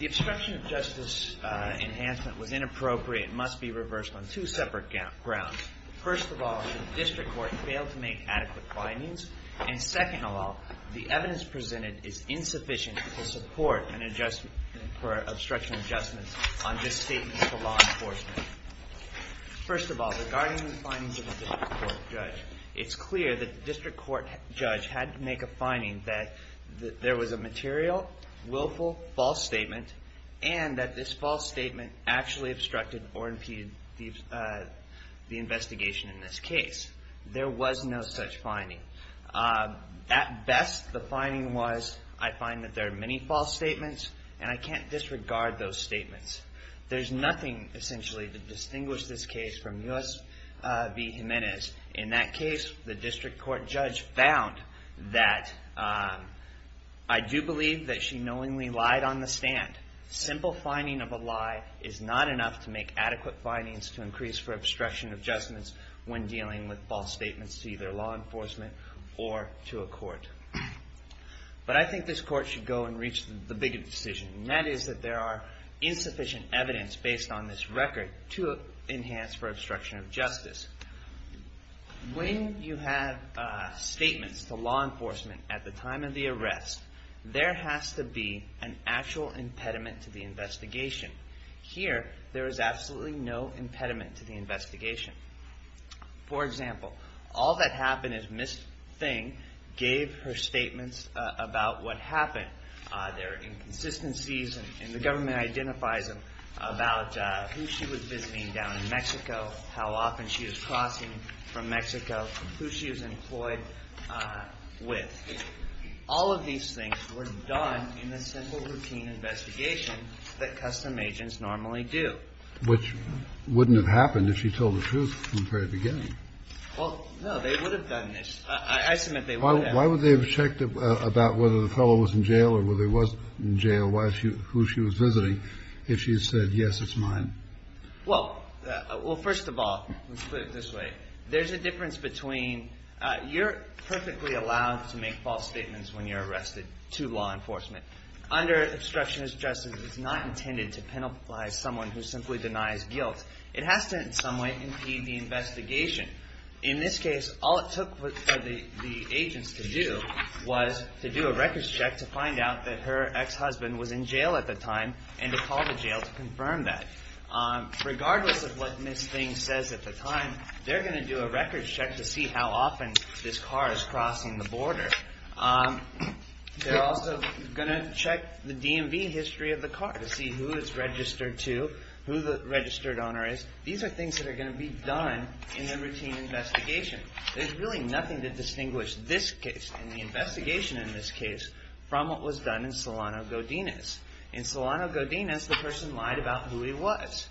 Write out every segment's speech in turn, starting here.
The obstruction of justice enhancement was inappropriate and must be reversed on two separate grounds. First of all, the district court failed to make adequate findings, and second of all, the evidence presented is insufficient to support an adjustment for obstruction of justice on this statement to law enforcement. First of all, regarding the findings of the district court judge, it's clear that the district court judge had to make a finding that there was a material, willful, false statement, and that this false statement actually obstructed or impeded the investigation in this case. There was no such finding. At best, the finding was, I find that there are many false statements, and I can't disregard those statements. There's nothing, essentially, to distinguish this case from Youssef B. Jimenez. In that case, the district court judge found that, I do believe that she knowingly lied on the stand. Simple finding of a lie is not enough to make adequate findings to increase for obstruction of justice when dealing with false statements to either law enforcement or to a court. But I think this court should go and reach the bigger decision, and that is that there are insufficient evidence based on this record to enhance for obstruction of justice. When you have statements to law enforcement at the time of the arrest, there has to be an actual impediment to the investigation. Here, there is absolutely no impediment to the investigation. For example, all that happened is Ms. Thing gave her statements about what happened, their inconsistencies, and the government identifies them, about who she was visiting down in Mexico, how often she was crossing from Mexico, who she was employed with. All of these things were done in the simple routine investigation that custom agents normally do. Which wouldn't have happened if she told the truth from the very beginning. Well, no. They would have done this. I submit they would have. Why would they have checked about whether the fellow was in jail or whether he was in jail, who she was visiting, if she had said, yes, it's mine? Well, first of all, let's put it this way. There's a difference between you're perfectly allowed to make false statements when you're arrested to law enforcement. Under obstruction of justice, it's not intended to penalize someone who simply denies guilt. It has to in some way impede the investigation. In this case, all it took for the agents to do was to do a records check to find out that her ex-husband was in jail at the time and to call the jail to confirm that. Regardless of what Ms. Thing says at the time, they're going to do a records check to see how often this car is crossing the border. They're also going to check the DMV history of the car to see who it's registered to, who the registered owner is. These are things that are going to be done in the routine investigation. There's really nothing to distinguish this case and the investigation in this case from what was done in Solano Godinez. In Solano Godinez, the person lied about who he was.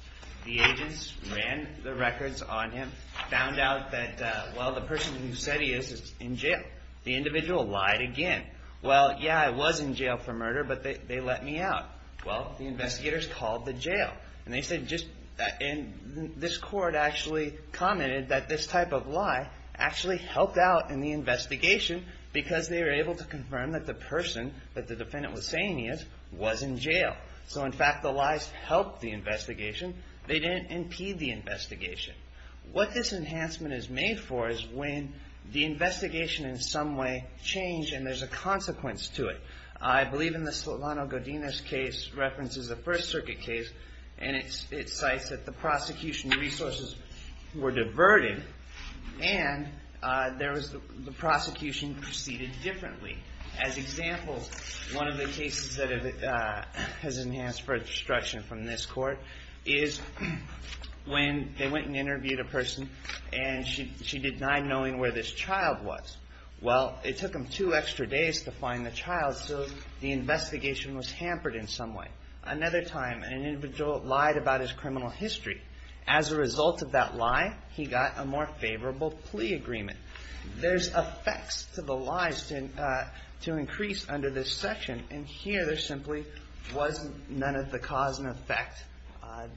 The agents ran the records on him, found out that, well, the person who said he is, is in jail. The individual lied again. Well, yeah, I was in jail for murder, but they let me out. Well, the investigators called the jail. And they said, this court actually commented that this type of lie actually helped out in the investigation because they were able to confirm that the person that the defendant was saying he is was in jail. So, in fact, the lies helped the investigation. They didn't impede the investigation. What this enhancement is made for is when the investigation in some way changed and there's a consequence to it. I believe in the Solano Godinez case references the First Circuit case, and it's, it cites that the prosecution resources were diverted and there was the prosecution proceeded differently. As examples, one of the cases that has enhanced for destruction from this court is when they went and interviewed a person and she denied knowing where this child was. Well, it took them two extra days to find the child, so the investigation was hampered in some way. Another time, an individual lied about his criminal history. As a result of that lie, he got a more favorable plea agreement. There's no effect to the lies to increase under this section, and here there simply was none of the cause and effect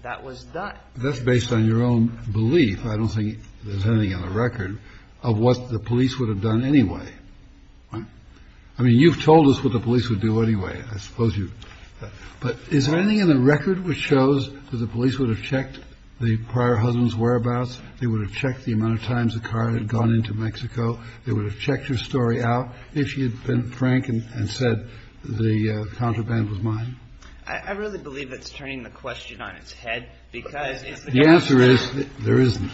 that was done. That's based on your own belief. I don't think there's anything on the record of what the police would have done anyway. I mean, you've told us what the police would do anyway, I suppose you, but is there anything in the record which shows that the police would have checked the prior husband's whereabouts? They would have checked the amount of times the car had gone into Mexico. They would have checked her story out if she had been frank and said the contraband was mine. I really believe that's turning the question on its head, because it's the case. The answer is there isn't.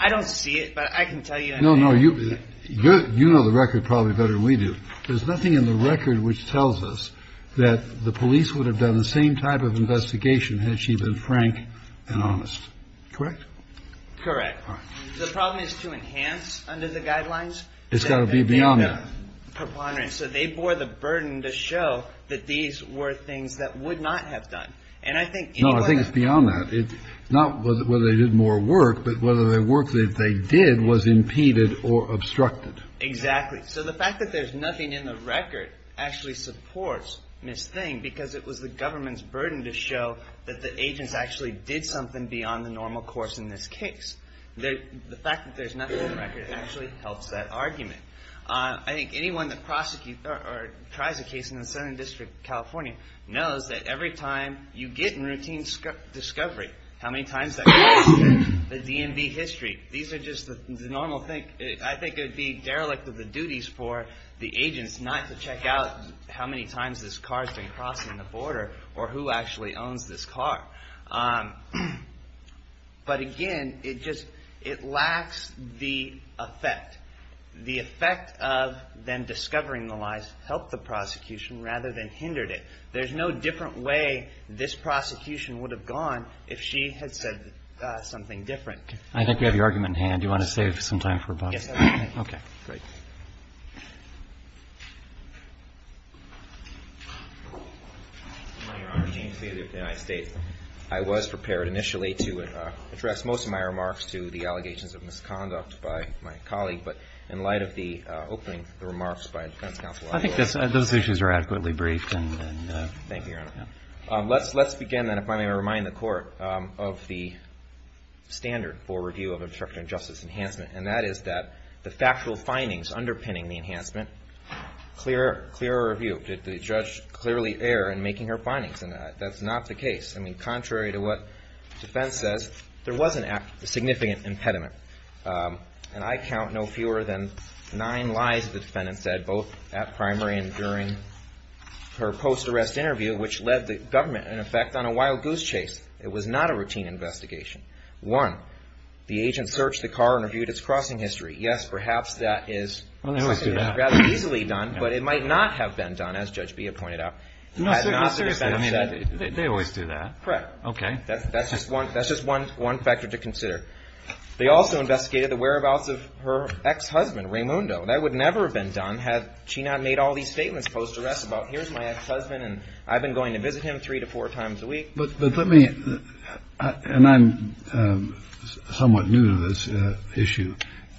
I don't see it, but I can tell you. No, no. You know the record probably better than we do. There's nothing in the record which tells us that the police would have done the same type of investigation had she been frank and honest. Correct? Correct. The problem is to enhance under the guidelines. It's got to be beyond that. So they bore the burden to show that these were things that would not have done. And I think anyway. No, I think it's beyond that. It's not whether they did more work, but whether the work that they did was impeded or obstructed. Exactly. So the fact that there's nothing in the record actually supports Ms. Thing, because it was the government's burden to show that the agents actually did something beyond the normal course in this case. The fact that there's nothing in the record actually helps that argument. I think anyone that prosecutes or tries a case in the Southern District of California knows that every time you get in routine discovery, how many times that goes through the DMV history. These are just the normal thing. I think it would be derelict of the duties for the agents not to check out how many times this car's been crossing the border or who actually owns this car. But again, it just, it lacks the effect, the effect of them discovering the lies to help the prosecution rather than hindered it. There's no different way this prosecution would have gone if she had said something different. I think we have your argument in hand. Do you want to save some time for Bob? Yes, I would. Okay. Great. Your Honor, James Thaler of the United States. I was prepared initially to address most of my remarks to the allegations of misconduct by my colleague, but in light of the opening remarks by the defense counsel, I will. I think those issues are adequately briefed and, and, uh. Thank you, Your Honor. Yeah. Let's, let's begin then if I may remind the court of the standard for review of obstruction of justice enhancement. And that is that the factual findings underpinning the enhancement, clear, clear review. Did the judge clearly err in making her findings? And that's not the case. I mean, contrary to what defense says, there was an act, a significant impediment. And I count no fewer than nine lies the defendant said both at primary and during her post-arrest interview, which led the government in effect on a wild goose chase. It was not a routine investigation. One, the agent searched the car and reviewed its crossing history. Yes, perhaps that is rather easily done, but it might not have been done as Judge Bia pointed out. No, seriously, I mean, they always do that. Correct. Okay. That's, that's just one, that's just one, one factor to consider. They also investigated the whereabouts of her ex-husband, Raymundo. That would never have been done had she not made all these statements post-arrest about here's my ex-husband and I've been going to visit him three to four times a week. But, but let me, and I'm somewhat new to this issue.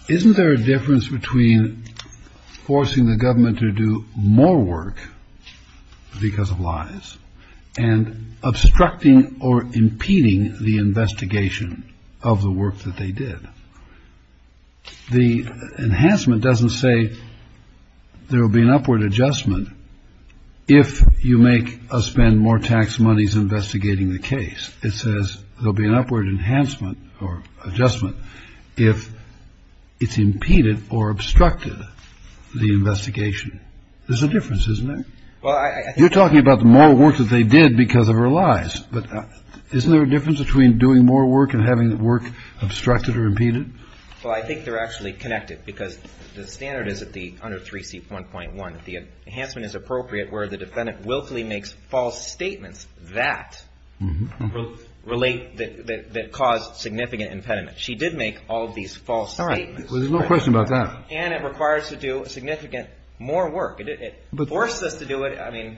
Isn't there a difference between forcing the government to do more work because of lies and obstructing or impeding the investigation of the work that they did? The enhancement doesn't say there will be an upward adjustment if you make us spend more tax monies investigating the case. It says there'll be an upward enhancement or adjustment if it's impeded or obstructed the investigation. There's a difference, isn't there? Well, I, I think- You're talking about the more work that they did because of her lies. But isn't there a difference between doing more work and having the work obstructed or impeded? Well, I think they're actually connected because the standard is that the, under 3C1.1, the enhancement is appropriate where the defendant willfully makes false statements that relate, that cause significant impediment. She did make all of these false statements. Well, there's no question about that. And it requires to do significant more work. It forced us to do it. I mean,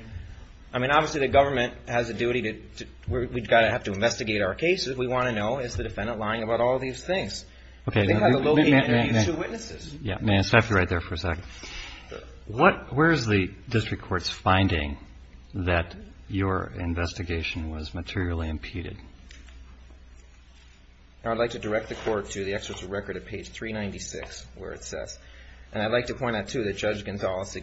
I mean, obviously the government has a duty to, we've got to have to investigate our cases. We want to know, is the defendant lying about all of these things? Okay. They have to locate and review two witnesses. Yeah. May I stop you right there for a second? What, where's the district court's finding that your investigation was materially impeded? I'd like to direct the court to the excerpts of record at page 396, where it says, and I'd like to point out too, that Judge Gonzalez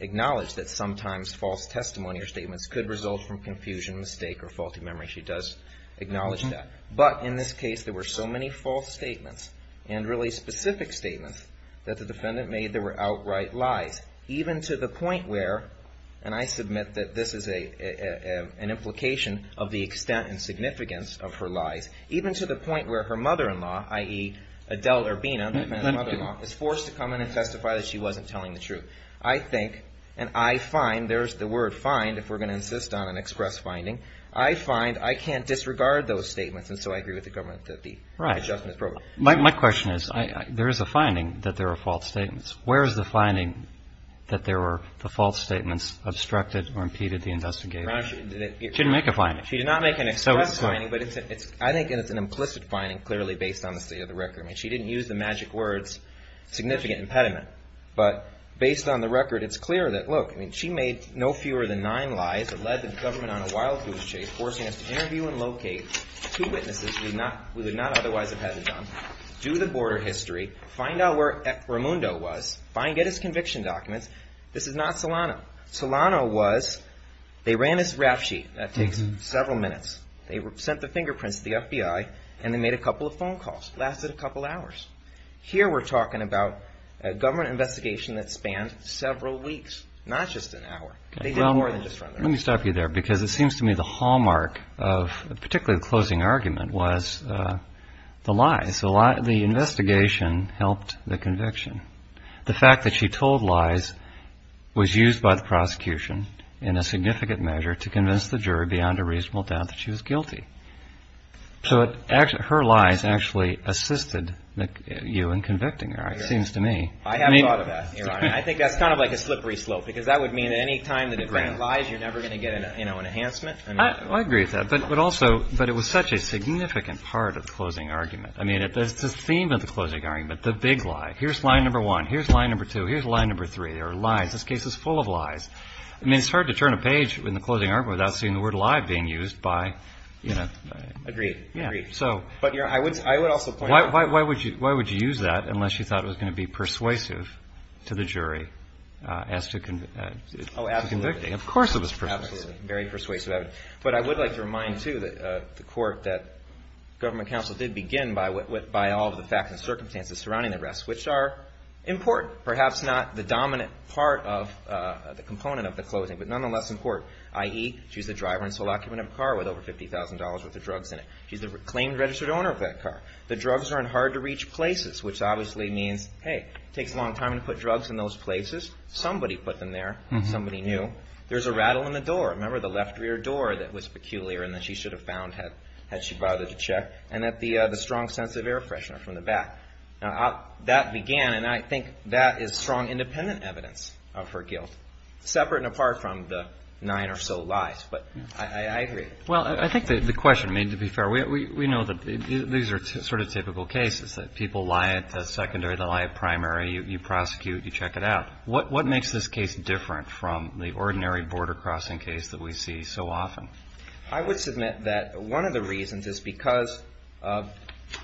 acknowledged that sometimes false testimony or statements could result from confusion, mistake, or faulty memory. She does acknowledge that. But in this case, there were so many false statements and really specific statements that the defendant made that were outright lies, even to the point where, and I submit that this is a, an implication of the extent and significance of her lies, even to the point where her mother-in-law, i.e. Adele Urbina, the defendant's mother-in-law, is forced to come in and testify that she wasn't telling the truth. I think, and I find, there's the word find, if we're going to insist on an express finding, I find I can't disregard those statements. And so I agree with the government that the adjustment is appropriate. My, my question is, I, I, there is a finding that there are false statements. Where is the finding that there were the false statements obstructed or impeded the investigator? She didn't make a finding. She did not make an express finding, but it's a, it's, I think it's an implicit finding, clearly based on the state of the record. I mean, she didn't use the magic words, significant impediment. But based on the record, it's clear that, look, I mean, she made no fewer than nine lies that led the government on a wild goose chase, forcing us to interview and do the border history, find out where Ramundo was, find, get his conviction documents. This is not Solano. Solano was, they ran his rap sheet. That takes several minutes. They sent the fingerprints to the FBI, and they made a couple of phone calls. Lasted a couple hours. Here we're talking about a government investigation that spanned several weeks, not just an hour. They did more than just run the rap sheet. Let me stop you there, because it seems to me the hallmark of, particularly the investigation helped the conviction. The fact that she told lies was used by the prosecution in a significant measure to convince the jury beyond a reasonable doubt that she was guilty. So it, her lies actually assisted you in convicting her, it seems to me. I haven't thought of that, Your Honor. I think that's kind of like a slippery slope, because that would mean that any time that you bring lies, you're never going to get an, you know, an enhancement. I agree with that. But, but also, but it was such a significant part of the closing argument. I mean, it's a theme of the closing argument, the big lie. Here's lie number one. Here's lie number two. Here's lie number three. There are lies. This case is full of lies. I mean, it's hard to turn a page in the closing argument without seeing the word lie being used by, you know. Agreed. Agreed. So. But, Your Honor, I would, I would also point out. Why, why, why would you, why would you use that unless you thought it was going to be persuasive to the jury as to convict, as to convicting? Of course it was persuasive. Very persuasive. But I would like to remind, too, that the court that government counsel did begin by all of the facts and circumstances surrounding the arrest, which are important. Perhaps not the dominant part of the component of the closing, but nonetheless important, i.e., she's the driver and sole occupant of a car with over $50,000 worth of drugs in it. She's the claimed registered owner of that car. The drugs are in hard to reach places, which obviously means, hey, it takes a long time to put drugs in those places. Somebody put them there. Somebody knew. There's a rattle in the door. Remember the left rear door that was peculiar and that she should have found had, had she rather to check, and that the, the strong sense of air freshener from the back. Now, that began, and I think that is strong independent evidence of her guilt, separate and apart from the nine or so lies. But I, I agree. Well, I think the question, I mean, to be fair, we, we, we know that these are sort of typical cases, that people lie at the secondary, they lie at primary, you, you prosecute, you check it out. What, what makes this case different from the ordinary border crossing case that we see so often? I would submit that one of the reasons is because of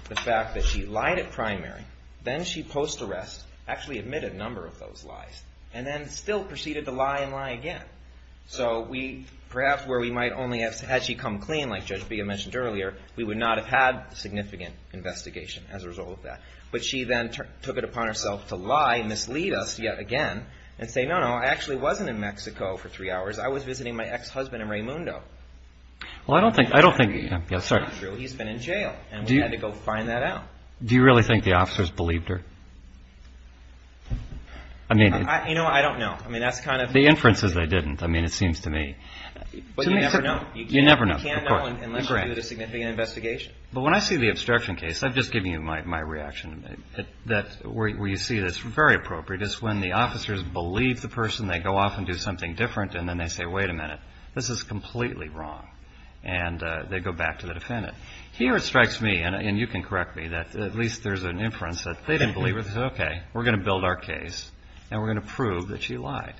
the fact that she lied at primary, then she post-arrest, actually admitted a number of those lies, and then still proceeded to lie and lie again. So we, perhaps where we might only have, had she come clean, like Judge Bea mentioned earlier, we would not have had significant investigation as a result of that. But she then took it upon herself to lie, mislead us yet again, and say, no, no, I actually wasn't in Mexico for three hours. I was visiting my ex-husband in Raymundo. Well, I don't think, I don't think, yes, sorry. He's been in jail, and we had to go find that out. Do you really think the officers believed her? I mean, I, you know, I don't know. I mean, that's kind of. The inferences, they didn't. I mean, it seems to me. But you never know. You never know. You can't know unless you do the significant investigation. But when I see the obstruction case, I've just given you my, my reaction, that where you see this, very appropriate, is when the officers believe the person, they go off and do something different, and then they say, wait a minute. This is completely wrong. And they go back to the defendant. Here it strikes me, and you can correct me, that at least there's an inference that they didn't believe her. They said, okay, we're going to build our case, and we're going to prove that she lied.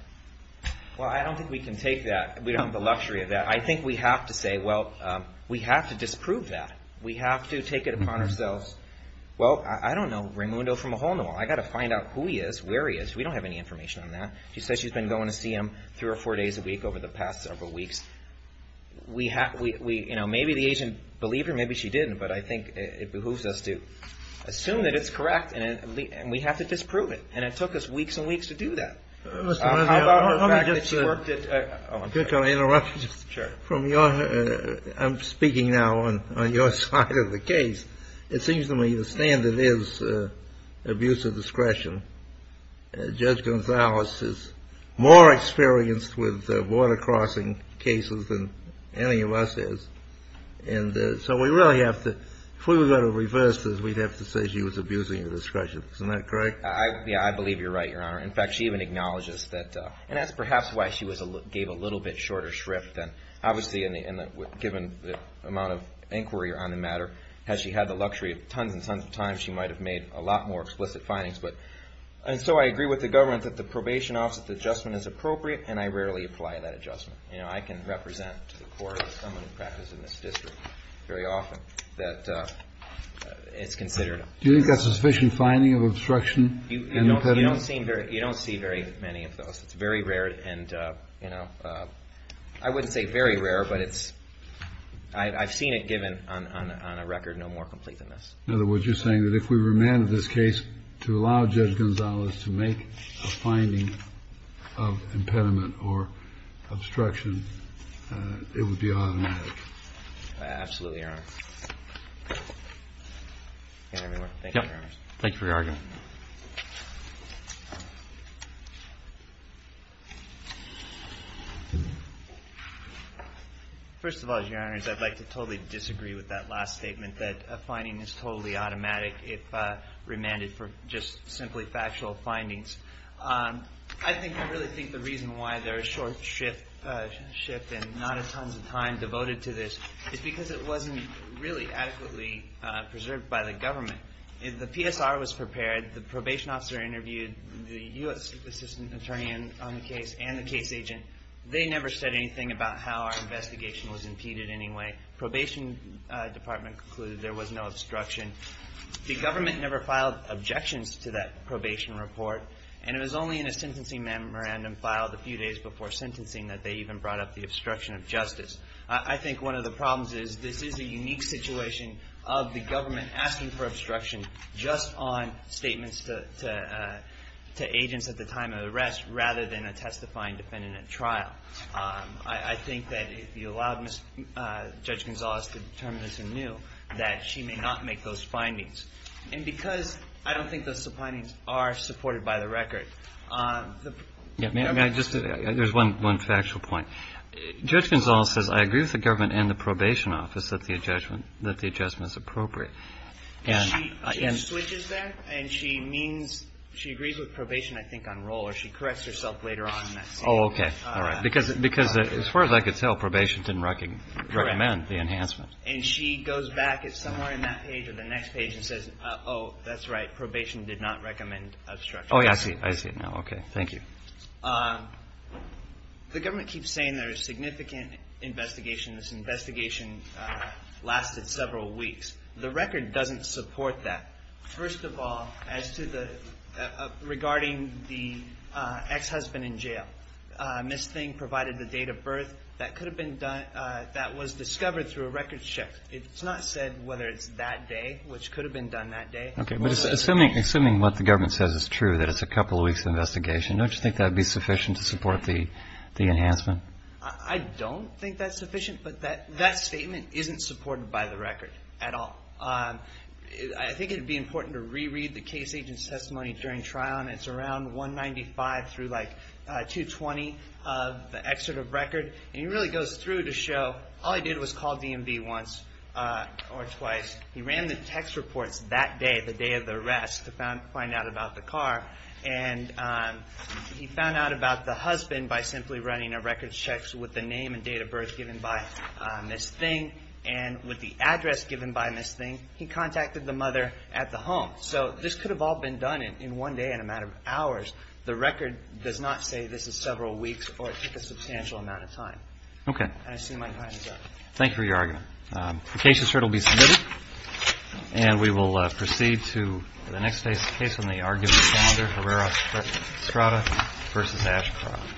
Well, I don't think we can take that. We don't have the luxury of that. I think we have to say, well, we have to disprove that. We have to take it upon ourselves. Well, I don't know Raymundo from a hole in the wall. I gotta find out who he is, where he is. We don't have any information on that. She says she's been going to see him three or four days a week over the past several weeks. We have, we, we, you know, maybe the agent believed her, maybe she didn't. But I think it behooves us to assume that it's correct, and we have to disprove it. And it took us weeks and weeks to do that. How about the fact that she worked at, oh, I'm sorry. Can I interrupt you? Sure. From your, I'm speaking now on, on your side of the case. It seems to me the standard is abuse of discretion. Judge Gonzalez is more experienced with border crossing cases than any of us is. And so we really have to, if we were going to reverse this, we'd have to say she was abusing of discretion. Isn't that correct? I, yeah, I believe you're right, your honor. In fact, she even acknowledges that, and that's perhaps why she was a, gave a little bit shorter shrift than, obviously in the, in the, given the amount of inquiry on the matter. Had she had the luxury of tons and tons of time, she might have made a lot more explicit findings. And so I agree with the government that the probation office adjustment is appropriate, and I rarely apply that adjustment. You know, I can represent to the court someone who practices in this district very often, that it's considered. Do you think that's a sufficient finding of obstruction? You, you don't, you don't see very, you don't see very many of those. It's very rare, and you know, I wouldn't say very rare, but it's, I, I've seen it given on, on, on a record no more complete than this. In other words, you're saying that if we remanded this case to allow Judge Gonzales to make a finding of impediment or obstruction, it would be automatic? Absolutely, your honor. And everyone, thank you for your honors. Thank you for your argument. First of all, your honors, I'd like to totally disagree with that last statement, that a finding is totally automatic if remanded for just simply factual findings. I think, I really think the reason why there is short shift, shift and not a ton of time devoted to this is because it wasn't really adequately preserved by the government. If the PSR was prepared, the probation officer interviewed the U.S. assistant attorney on the case and the case agent. They never said anything about how our investigation was impeded in any way. Probation department concluded there was no obstruction. The government never filed objections to that probation report. And it was only in a sentencing memorandum filed a few days before sentencing that they even brought up the obstruction of justice. I, I think one of the problems is, this is a unique situation of the government asking for obstruction just on statements to, to, to agents at the time of arrest, rather than a testifying defendant at trial. I, I think that if you allowed Ms., Judge Gonzales to determine this anew, that she may not make those findings. And because I don't think those findings are supported by the record, the. Yeah, may, may I just, there's one, one factual point. Judge Gonzales says, I agree with the government and the probation office that the adjustment, that the adjustment is appropriate. And. She, she switches there, and she means, she agrees with probation, I think, on roll. Oh, okay, all right. As far as I could tell, probation didn't recommend the enhancement. And she goes back, it's somewhere in that page or the next page, and says, oh, that's right, probation did not recommend obstruction. Oh, yeah, I see, I see it now, okay, thank you. The government keeps saying there's significant investigation, this investigation lasted several weeks. The record doesn't support that. First of all, as to the, regarding the ex-husband in jail. Miss Thing provided the date of birth. That could have been done, that was discovered through a record shift. It's not said whether it's that day, which could have been done that day. Okay, but assuming, assuming what the government says is true, that it's a couple of weeks of investigation, don't you think that would be sufficient to support the, the enhancement? I don't think that's sufficient, but that, that statement isn't supported by the record at all. I think it'd be important to reread the case agent's testimony during trial, and it's around 195 through like 220 of the excerpt of record. And he really goes through to show, all he did was call DMV once or twice. He ran the text reports that day, the day of the arrest, to find out about the car. And he found out about the husband by simply running a record check with the name and date of birth given by Miss Thing, and with the address given by Miss Thing. He contacted the mother at the home. So this could have all been done in, in one day, in a matter of hours. The record does not say this is several weeks, or it took a substantial amount of time. Okay. And I assume my time is up. Thank you for your argument. The case is sure to be submitted, and we will proceed to the next case, case on the argument calendar, Herrera-Estrada versus Ashcroft.